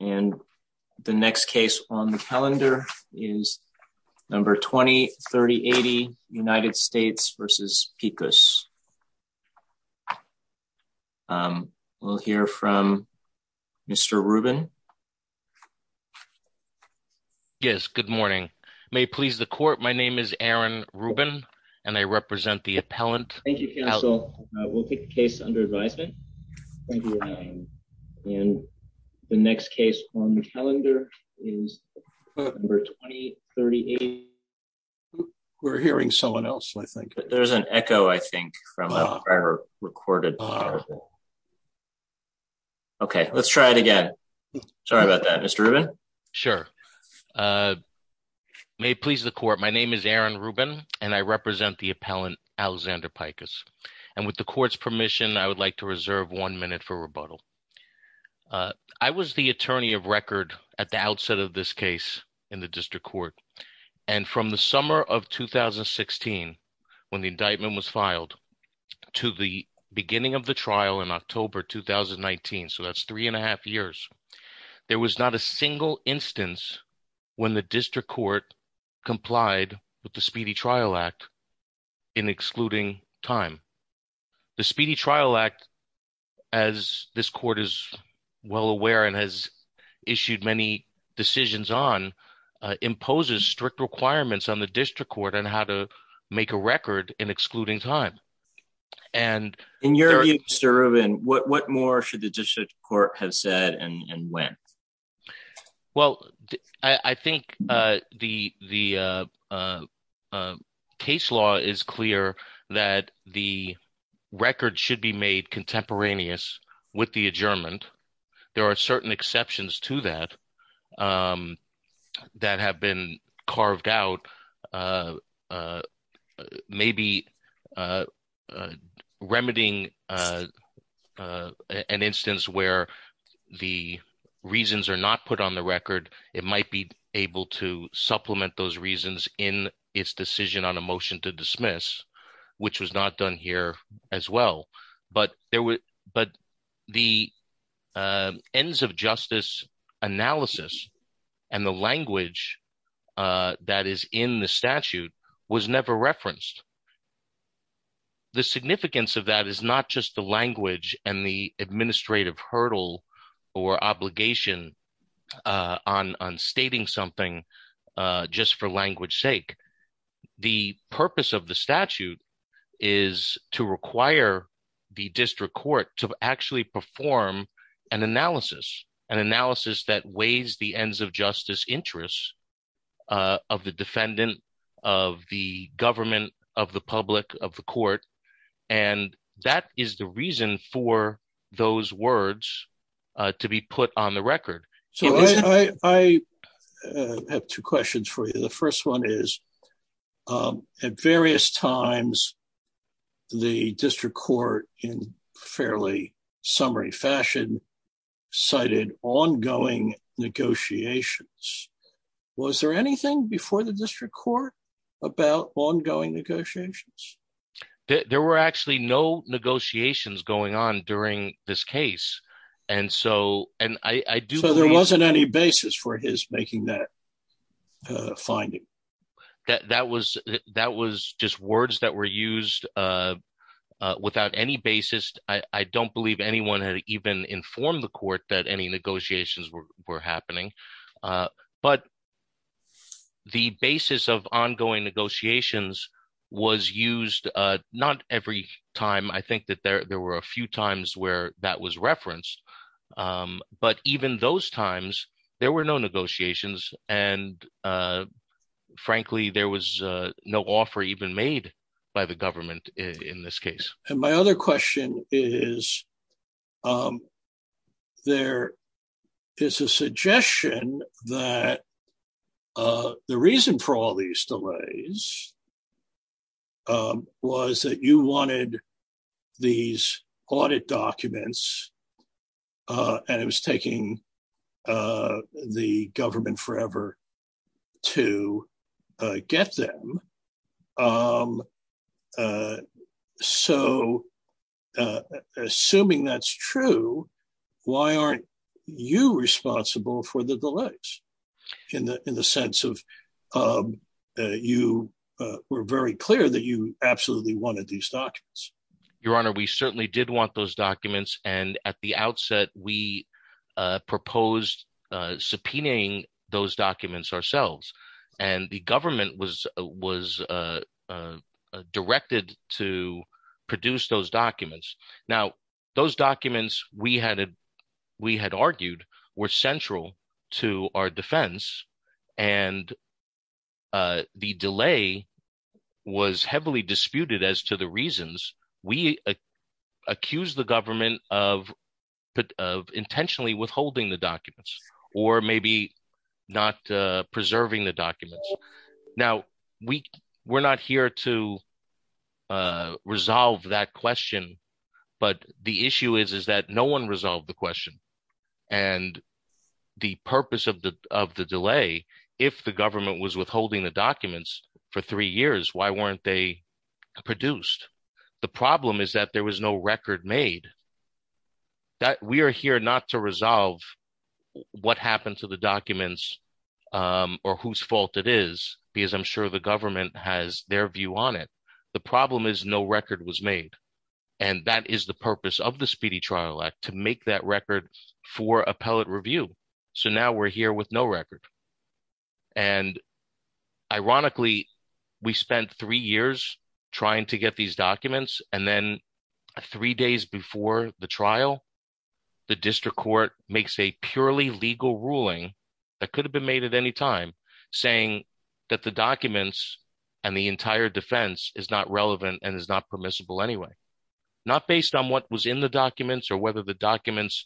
and the next case on the calendar is number 203080 United States v. Pikus. We'll hear from Mr. Rubin. Yes, good morning. May it please the court, my name is Aaron Rubin and I represent the appellant. Thank you, counsel. We'll take the case under advisement. Thank you. And the next case on the calendar is number 203080. We're hearing someone else, I think. There's an echo, I think, from our recorded. Okay, let's try it again. Sorry about that, Mr. Rubin. Sure. May it please the court, my name is Aaron Rubin and I represent the appellant Alexander Pikus. And with the court's permission, I would like to reserve one minute for rebuttal. I was the attorney of record at the outset of this case in the district court. And from the summer of 2016, when the indictment was filed, to the beginning of the trial in October 2019, so that's three and a half years, there was not a single instance when the district court complied with the Speedy Trial Act in excluding time. The Speedy Trial Act, as this court is well aware and has issued many decisions on, imposes strict requirements on the district court on how to make a record in excluding time. And you're Mr. Rubin, what more should the district have said and when? Well, I think the case law is clear that the record should be made contemporaneous with the adjournment. There are certain exceptions to that, that have been carved out, maybe remedying an instance where the reasons are not put on the record, it might be able to supplement those reasons in its decision on a motion to dismiss, which was not done here as well. But the ends of justice analysis and the language that is in the statute was never referenced. The significance of that is not just the language and the administrative hurdle or obligation on stating something just for language sake. The purpose of the statute is to require the district court to actually perform an analysis, an analysis that weighs the ends of justice interests of the defendant, of the government, of the public, of the court. And that is the reason for those words to be put on the record. So I have two questions for you. The first one is, at various times, the district court in fairly summary fashion, cited ongoing negotiations. Was there anything before the district court about ongoing negotiations? There were actually no negotiations going on during this case. And so, and I do... Any basis for his making that finding? That was just words that were used without any basis. I don't believe anyone had even informed the court that any negotiations were happening. But the basis of ongoing negotiations was used not every time. I think there were a few times where that was referenced. But even those times, there were no negotiations. And frankly, there was no offer even made by the government in this case. And my other question is, there is a suggestion that the reason for all these delays was that you wanted these audit documents, and it was taking the government forever to get them. So, assuming that's true, why aren't you responsible for the delays? In the sense of that you were very clear that you absolutely wanted these documents. Your Honor, we certainly did want those documents. And at the outset, we proposed subpoenaing those documents ourselves. And the government was directed to produce those documents. Now, those documents, we had argued, were central to our defense. And the delay was heavily disputed as to the reasons. We accused the government of intentionally withholding the documents, or maybe not preserving the documents. Now, we're not here to but the issue is that no one resolved the question. And the purpose of the delay, if the government was withholding the documents for three years, why weren't they produced? The problem is that there was no record made. We are here not to resolve what happened to the documents, or whose fault it is, because I'm sure the government has their view on it. The problem is no record was made. And that is the purpose of the Speedy Trial Act to make that record for appellate review. So now we're here with no record. And ironically, we spent three years trying to get these documents. And then three days before the trial, the district court makes a purely legal ruling that could have been made at any time, saying that the documents and entire defense is not relevant and is not permissible anyway, not based on what was in the documents, or whether the documents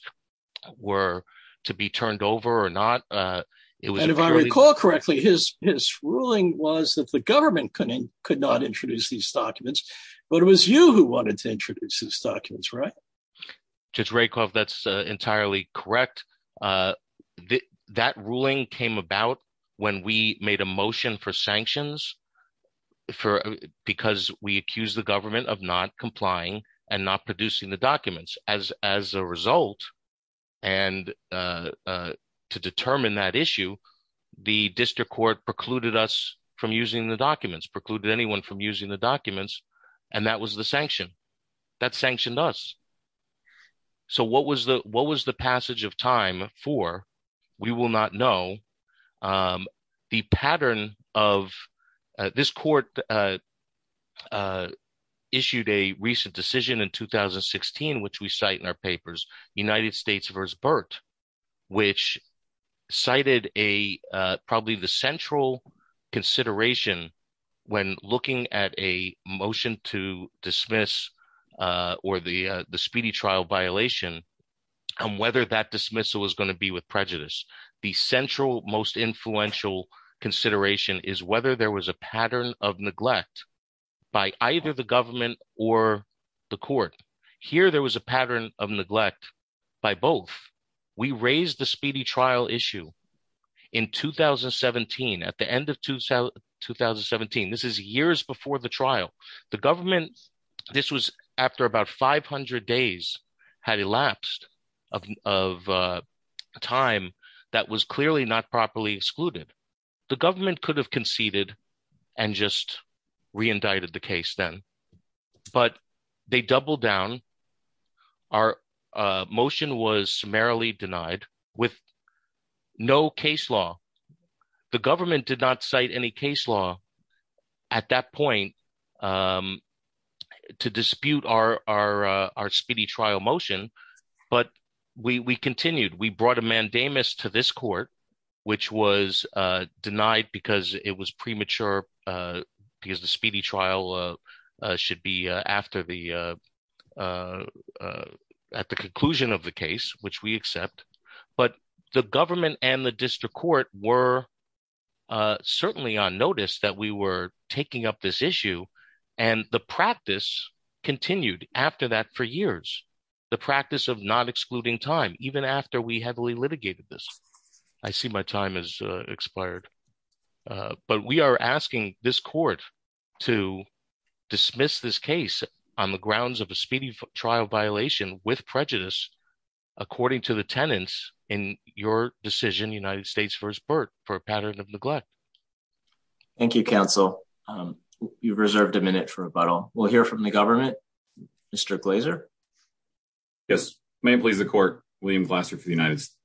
were to be turned over or not. And if I recall correctly, his ruling was that the government could not introduce these documents. But it was you who wanted to introduce these documents, right? Judge Rakoff, that's entirely correct. But that ruling came about when we made a motion for sanctions, because we accused the government of not complying and not producing the documents. As a result, and to determine that issue, the district court precluded us from using the documents, precluded anyone from using the for, we will not know. The pattern of this court issued a recent decision in 2016, which we cite in our papers, United States v. Burt, which cited probably the central consideration when looking at a motion to dismiss or the speedy trial violation, and whether that dismissal was going to be with prejudice. The central most influential consideration is whether there was a pattern of neglect by either the government or the court. Here, there was a pattern of neglect by both. We raised the speedy trial issue in 2017, at the end of 2017. This is years before the trial. The government, this was after about 500 days, had elapsed of time that was clearly not properly excluded. The government could have conceded and just re-indicted the case then. But they doubled down. Our motion was summarily denied with no case law. The government did not cite any case law at that point to dispute our speedy trial motion. But we continued. We brought a mandamus to this court, which was denied because it was premature, because the speedy trial should be after the conclusion of the case, which we accept. But the government and the district court were certainly on notice that we were taking up this issue. The practice continued after that for years, the practice of not excluding time, even after we heavily litigated this. I see my time has expired. But we are asking this court to dismiss this case on the grounds of a speedy trial violation with prejudice, according to the tenants in your decision, United States v. Burt, for a pattern of neglect. Thank you, counsel. You've reserved a minute for rebuttal. We'll hear from the government. Mr. Glaser. Yes. May it please the court, William Glaser for the United States.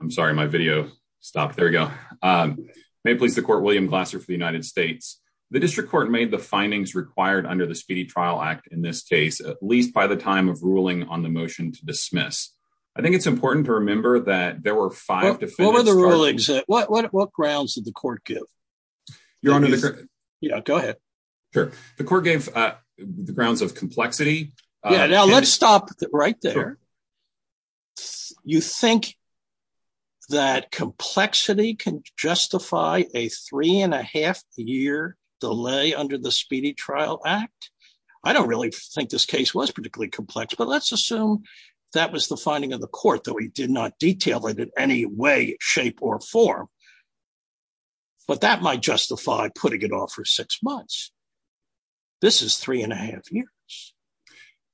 I'm sorry, my video stopped. There we go. May it please the court, William Glaser for the United States. The district court made the findings required under the Speedy Trial Act in this case, at least by the time of ruling on the motion to dismiss. I think it's important to remember that there were five defendants. What were the rulings? What grounds did the court give? Your Honor. Yeah, go ahead. Sure. The court gave the grounds of complexity. Yeah, now let's stop right there. You think that complexity can justify a three and a half year delay under the Speedy Trial Act? I don't really think this case was particularly complex. But let's assume that was the finding of the court that we did not detail it in any way, shape, or form. But that might justify putting it off for six months. This is three and a half years.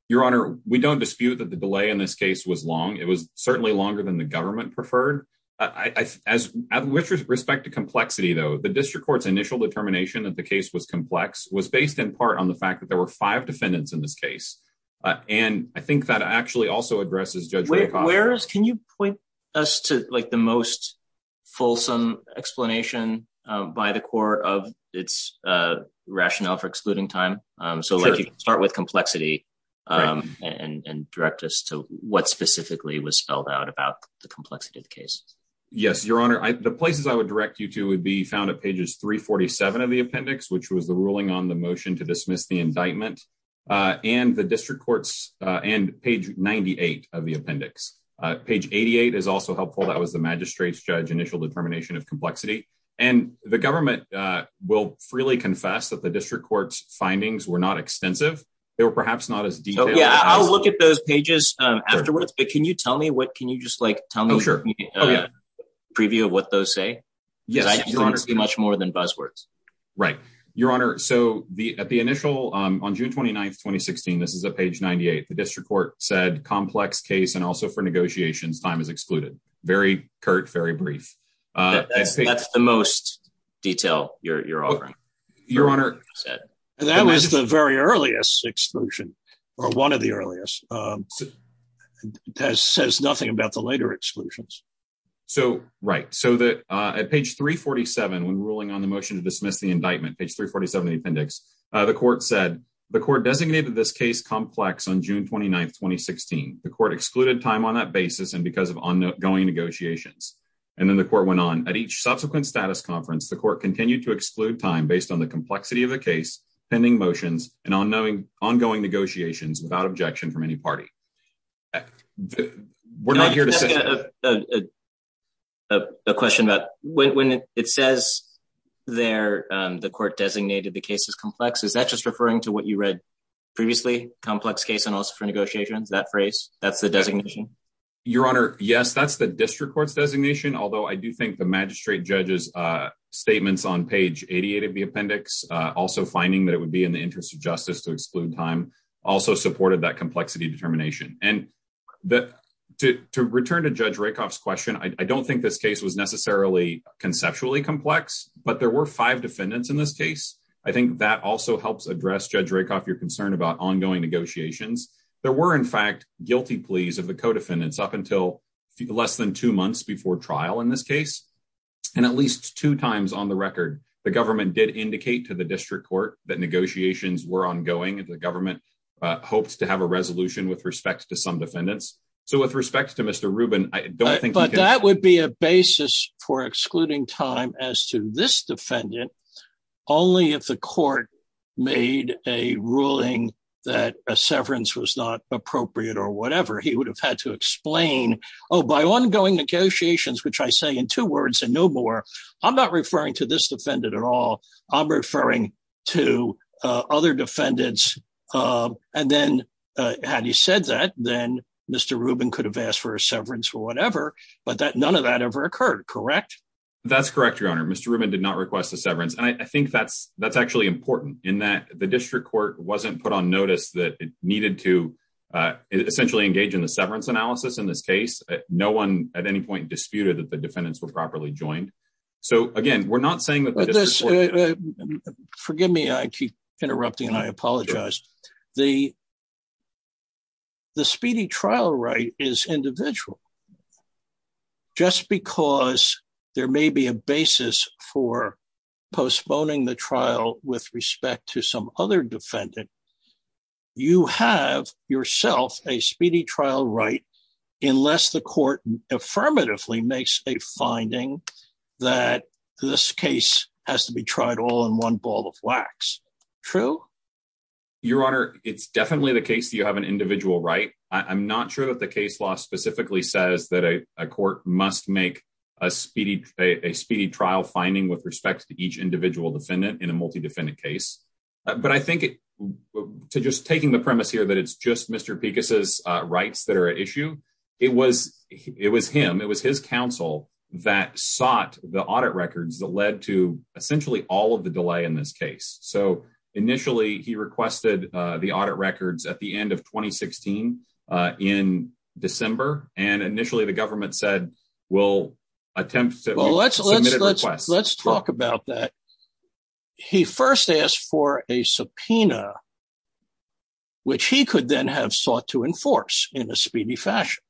Your Honor, we don't dispute that the delay in this case was long. It was certainly longer than the government preferred. As with respect to complexity, though, the district court's initial determination that the case was complex was based in part on the fact that there were five defendants in this case. And I think that actually also addresses Judge McOsker. Can you point us to the most fulsome explanation by the court of its rationale for excluding time? So you can start with complexity and direct us to what specifically was spelled out about the complexity of the case. Yes, Your Honor. The places I would direct you to would be found at pages 347 of the appendix, which was the ruling on the motion to dismiss the indictment, and page 98 of the appendix. Page 88 is also helpful. That was the magistrate's judge's initial determination of complexity. And the government will freely confess that the district court's findings were not extensive. They were perhaps not as detailed. Yeah, I'll look at those pages afterwards. But can you just tell me a preview of what those say? I can see much more than buzzwords. Right, Your Honor. So on June 29, 2016, this is at page 98, the district court said, complex case and also for negotiations, time is excluded. Very curt, very brief. That's the most detail you're offering. That was the very earliest exclusion, or one of the earliest. So that says nothing about the later exclusions. Right. So at page 347, when ruling on the motion to dismiss the indictment, page 347 of the appendix, the court said, the court designated this case complex on June 29, 2016. The court excluded time on that basis and because of ongoing negotiations. And then the court went on. At each subsequent status conference, the court continued to exclude time based on the complexity of the case, pending motions and ongoing negotiations without objection from any party. We're not here to say. A question about when it says there, the court designated the case as complex. Is that just referring to what you read previously, complex case and also for negotiations, that phrase, that's the designation? Your Honor. Yes, that's the district court's designation. Although I do think the magistrate judge's statements on page 88 of the appendix, also finding that it would be in the interest of justice to exclude time, also supported that complexity determination. And to return to Judge Rakoff's question, I don't think this case was necessarily conceptually complex, but there were five defendants in this case. I think that also helps address Judge Rakoff, your concern about ongoing negotiations. There were in fact, guilty pleas of the co-defendants up until less than two months before trial in this case. And at least two times on the record, the government did indicate to the district court that negotiations were ongoing and the government hopes to have a resolution with respect to some defendants. So with respect to Mr. Rubin, I don't think- But that would be a basis for excluding time as to this defendant. Only if the court made a ruling that a severance was not appropriate or whatever, he would have had to explain, oh, by ongoing negotiations, which I say in two words and no more, I'm not referring to this defendant at all. I'm referring to other defendants. And then, had he said that, then Mr. Rubin could have asked for a severance or whatever, but that none of that ever occurred, correct? That's correct, your honor. Mr. Rubin did not request a severance. And I think that's actually important in that the district court wasn't put notice that it needed to essentially engage in the severance analysis in this case. No one at any point disputed that the defendants were properly joined. So again, we're not saying that- Forgive me, I keep interrupting and I apologize. The speedy trial right is individual. Just because there may be a basis for postponing the trial with respect to some other defendant, you have yourself a speedy trial right, unless the court affirmatively makes a finding that this case has to be tried all in one ball of wax. True? Your honor, it's definitely the case that you have an individual right. I'm not sure that the case law specifically says that a court must make a speedy trial finding with respect to each individual defendant in a multi-defendant case. But I think to just taking the premise here that it's just Mr. Pekus' rights that are at issue, it was him, it was his counsel that sought the audit records that led to essentially all of the delay in this case. So initially he requested the audit records at the end of 2016 in December. And initially the government said, we'll attempt to- Well, let's talk about that. He first asked for a subpoena, which he could then have sought to enforce in a speedy fashion.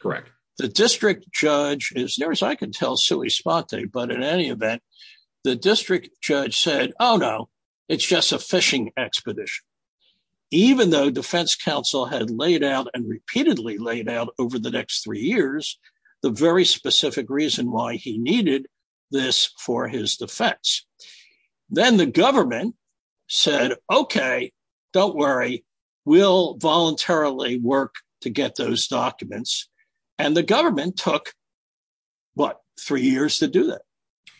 Correct. The district judge, as near as I can tell, sui sponte, but in any event, the district judge said, oh no, it's just a phishing expedition. Even though defense counsel had laid out and repeatedly laid out over the next three years, the very specific reason why he needed this for his defense. Then the government said, okay, don't worry. We'll voluntarily work to get those documents. And the government took, what, three years to do that.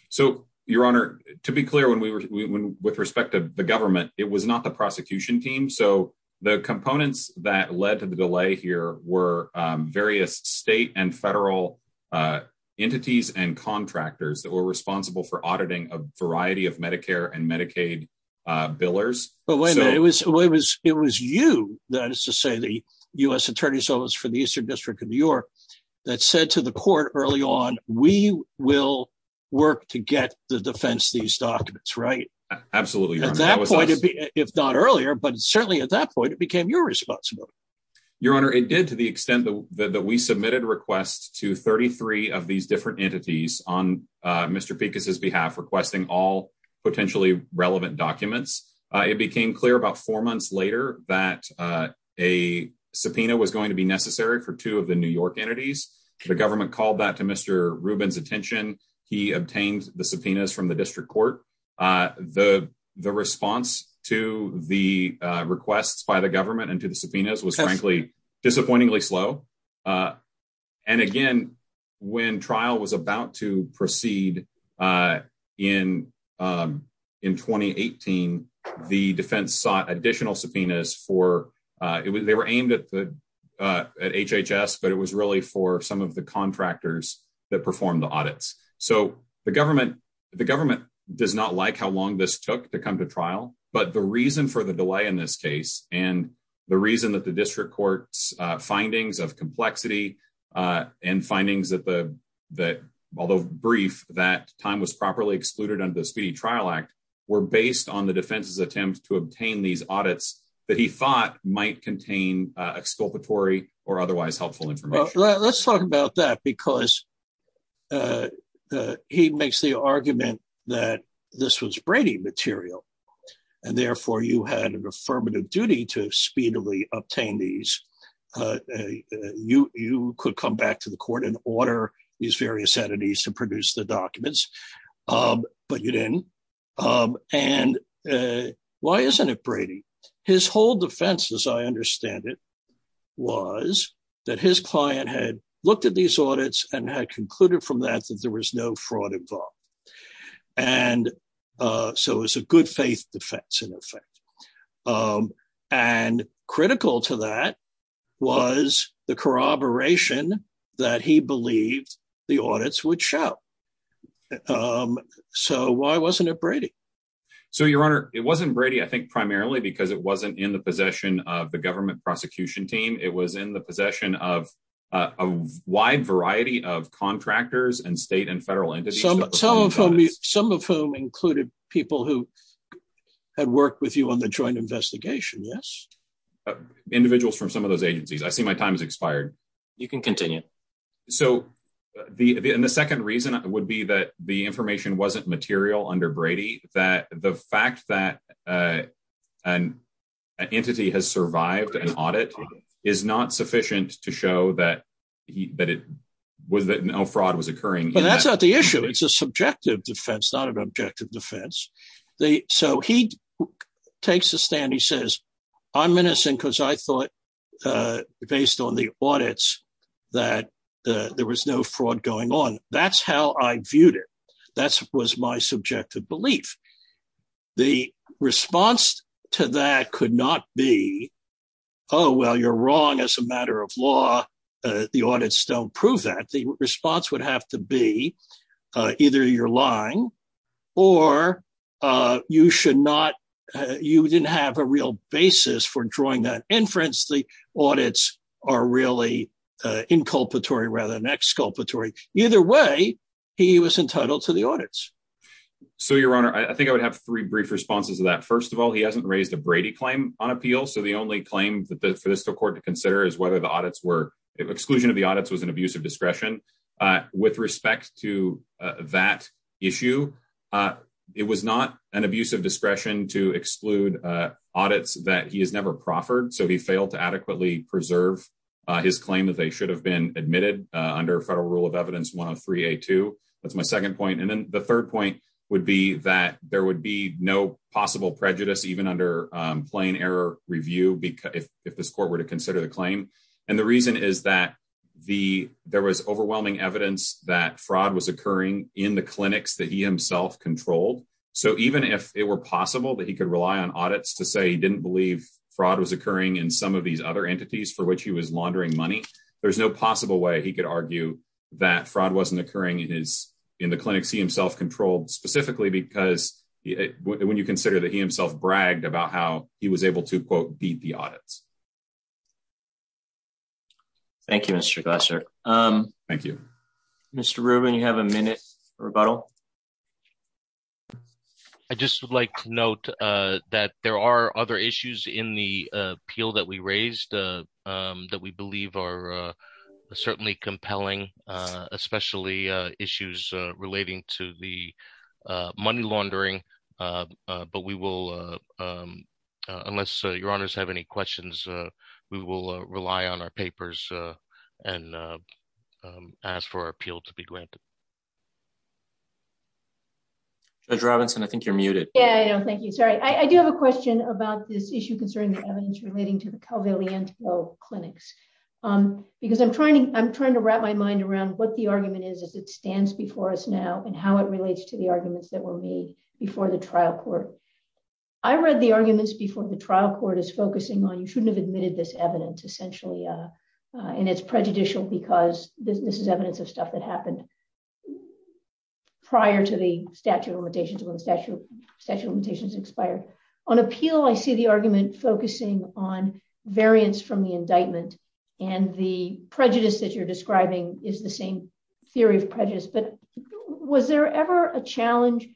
So your honor, to be clear, with respect to the government, it was not the prosecution team. So the components that led to the delay here were various state and federal entities and contractors that were responsible for auditing a variety of Medicare and Medicaid billers. But wait a minute, it was you, that is to say the U.S. attorney's office for the Eastern District of New York, that said to the court early on, we will work to get the defense, these documents, absolutely. At that point, if not earlier, but certainly at that point, it became your responsibility. Your honor, it did to the extent that we submitted requests to 33 of these different entities on Mr. Pekus' behalf, requesting all potentially relevant documents. It became clear about four months later that a subpoena was going to be necessary for two of the New York entities. The government called that to Mr. Rubin's attention. He obtained the subpoenas from the district court. The response to the requests by the government and to the subpoenas was frankly, disappointingly slow. And again, when trial was about to proceed in 2018, the defense sought additional subpoenas for, they were aimed at HHS, but it was really for some of the not like how long this took to come to trial, but the reason for the delay in this case, and the reason that the district court's findings of complexity and findings that, although brief, that time was properly excluded under the Speedy Trial Act, were based on the defense's attempt to obtain these audits that he thought might contain exculpatory or otherwise helpful Let's talk about that because he makes the argument that this was Brady material and therefore you had an affirmative duty to speedily obtain these. You could come back to the court and order these various entities to produce the documents, but you didn't. And why isn't it Brady? His whole defense, as I understand it, was that his client had looked at these audits and had concluded from that, that there was no fraud involved. And so it was a good faith defense in effect. And critical to that was the corroboration that he believed the audits would show. So why wasn't it Brady? So your honor, it wasn't Brady, I think primarily because it wasn't in the possession of the government prosecution team. It was in the possession of a wide variety of contractors and state and federal entities. Some of whom included people who had worked with you on the joint investigation. Yes. Individuals from some of those agencies. I see my time has expired. You can continue. So the second reason would be that the information wasn't material under Brady, that the fact that an entity has survived an audit is not sufficient to show that no fraud was occurring. But that's not the issue. It's a subjective defense, not an objective defense. So he takes a stand. He says, I'm menacing because I thought based on the audits that there was no fraud going on. That's how I viewed it. That was my subjective belief. The response to that could not be, oh, well, you're wrong as a matter of law. The audits don't prove that. The response would have to be either you're lying or you should not, you didn't have a real basis for drawing that inference audits are really inculpatory rather than exculpatory. Either way, he was entitled to the audits. So your honor, I think I would have three brief responses to that. First of all, he hasn't raised a Brady claim on appeal. So the only claim that the court to consider is whether the audits were exclusion of the audits was an abuse of discretion with respect to that issue. It was not an abuse of discretion to exclude audits that he has never proffered. So he failed adequately preserve his claim that they should have been admitted under federal rule of evidence 103 A2. That's my second point. And then the third point would be that there would be no possible prejudice, even under plain error review, because if this court were to consider the claim and the reason is that the, there was overwhelming evidence that fraud was occurring in the clinics that he himself controlled. So even if it were possible that he could rely on audits to say, didn't believe fraud was occurring in some of these other entities for which he was laundering money, there's no possible way he could argue that fraud wasn't occurring in his, in the clinics. He himself controlled specifically because when you consider that he himself bragged about how he was able to quote, beat the audits. Thank you, Mr. Glasser. Um, thank you, Mr. Rubin. Rebuttal. I just would like to note, uh, that there are other issues in the, uh, appeal that we raised, uh, um, that we believe are, uh, certainly compelling, uh, especially, uh, issues, uh, relating to the, uh, money laundering. Uh, uh, but we will, uh, um, uh, unless your honors have any questions, uh, we will rely on our papers, uh, and, uh, um, ask for our appeal to be granted. Judge Robinson, I think you're muted. Yeah, I know. Thank you. Sorry. I do have a question about this issue concerning the evidence relating to the Calveliento clinics. Um, because I'm trying to, I'm trying to wrap my mind around what the argument is, as it stands before us now and how it relates to the arguments that were made before the trial court. I read the arguments before the trial court is focusing on, you shouldn't have admitted this of stuff that happened prior to the statute of limitations when the statute of limitations expired. On appeal, I see the argument focusing on variance from the indictment and the prejudice that you're describing is the same theory of prejudice, but was there ever a challenge,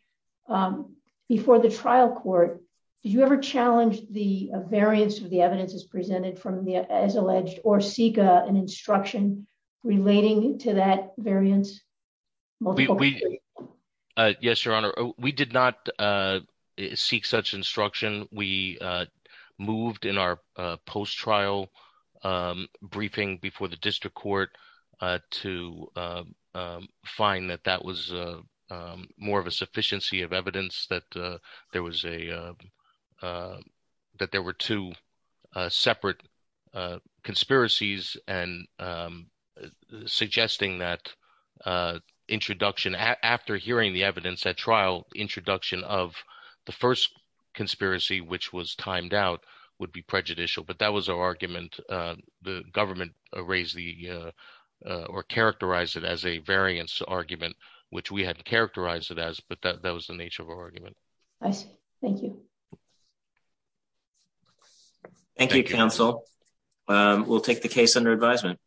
um, before the trial court, did you ever challenge the variance of the evidence is presented from as alleged or seek an instruction relating to that variance? Yes, your honor. We did not, uh, seek such instruction. We, uh, moved in our, uh, post trial, um, briefing before the district court, uh, to, um, um, find that that was, uh, um, more of a sufficiency of evidence that, uh, there was a, uh, that there were two, uh, separate, uh, conspiracies and, um, suggesting that, uh, introduction after hearing the evidence at trial introduction of the first conspiracy, which was timed out would be prejudicial, but that was our argument. Uh, the government raised the, uh, or characterize it as a variance argument, which we hadn't characterized it as, but that was the nature of our argument. I see. Thank you. Thank you, counsel. Um, we'll take the case under advisement.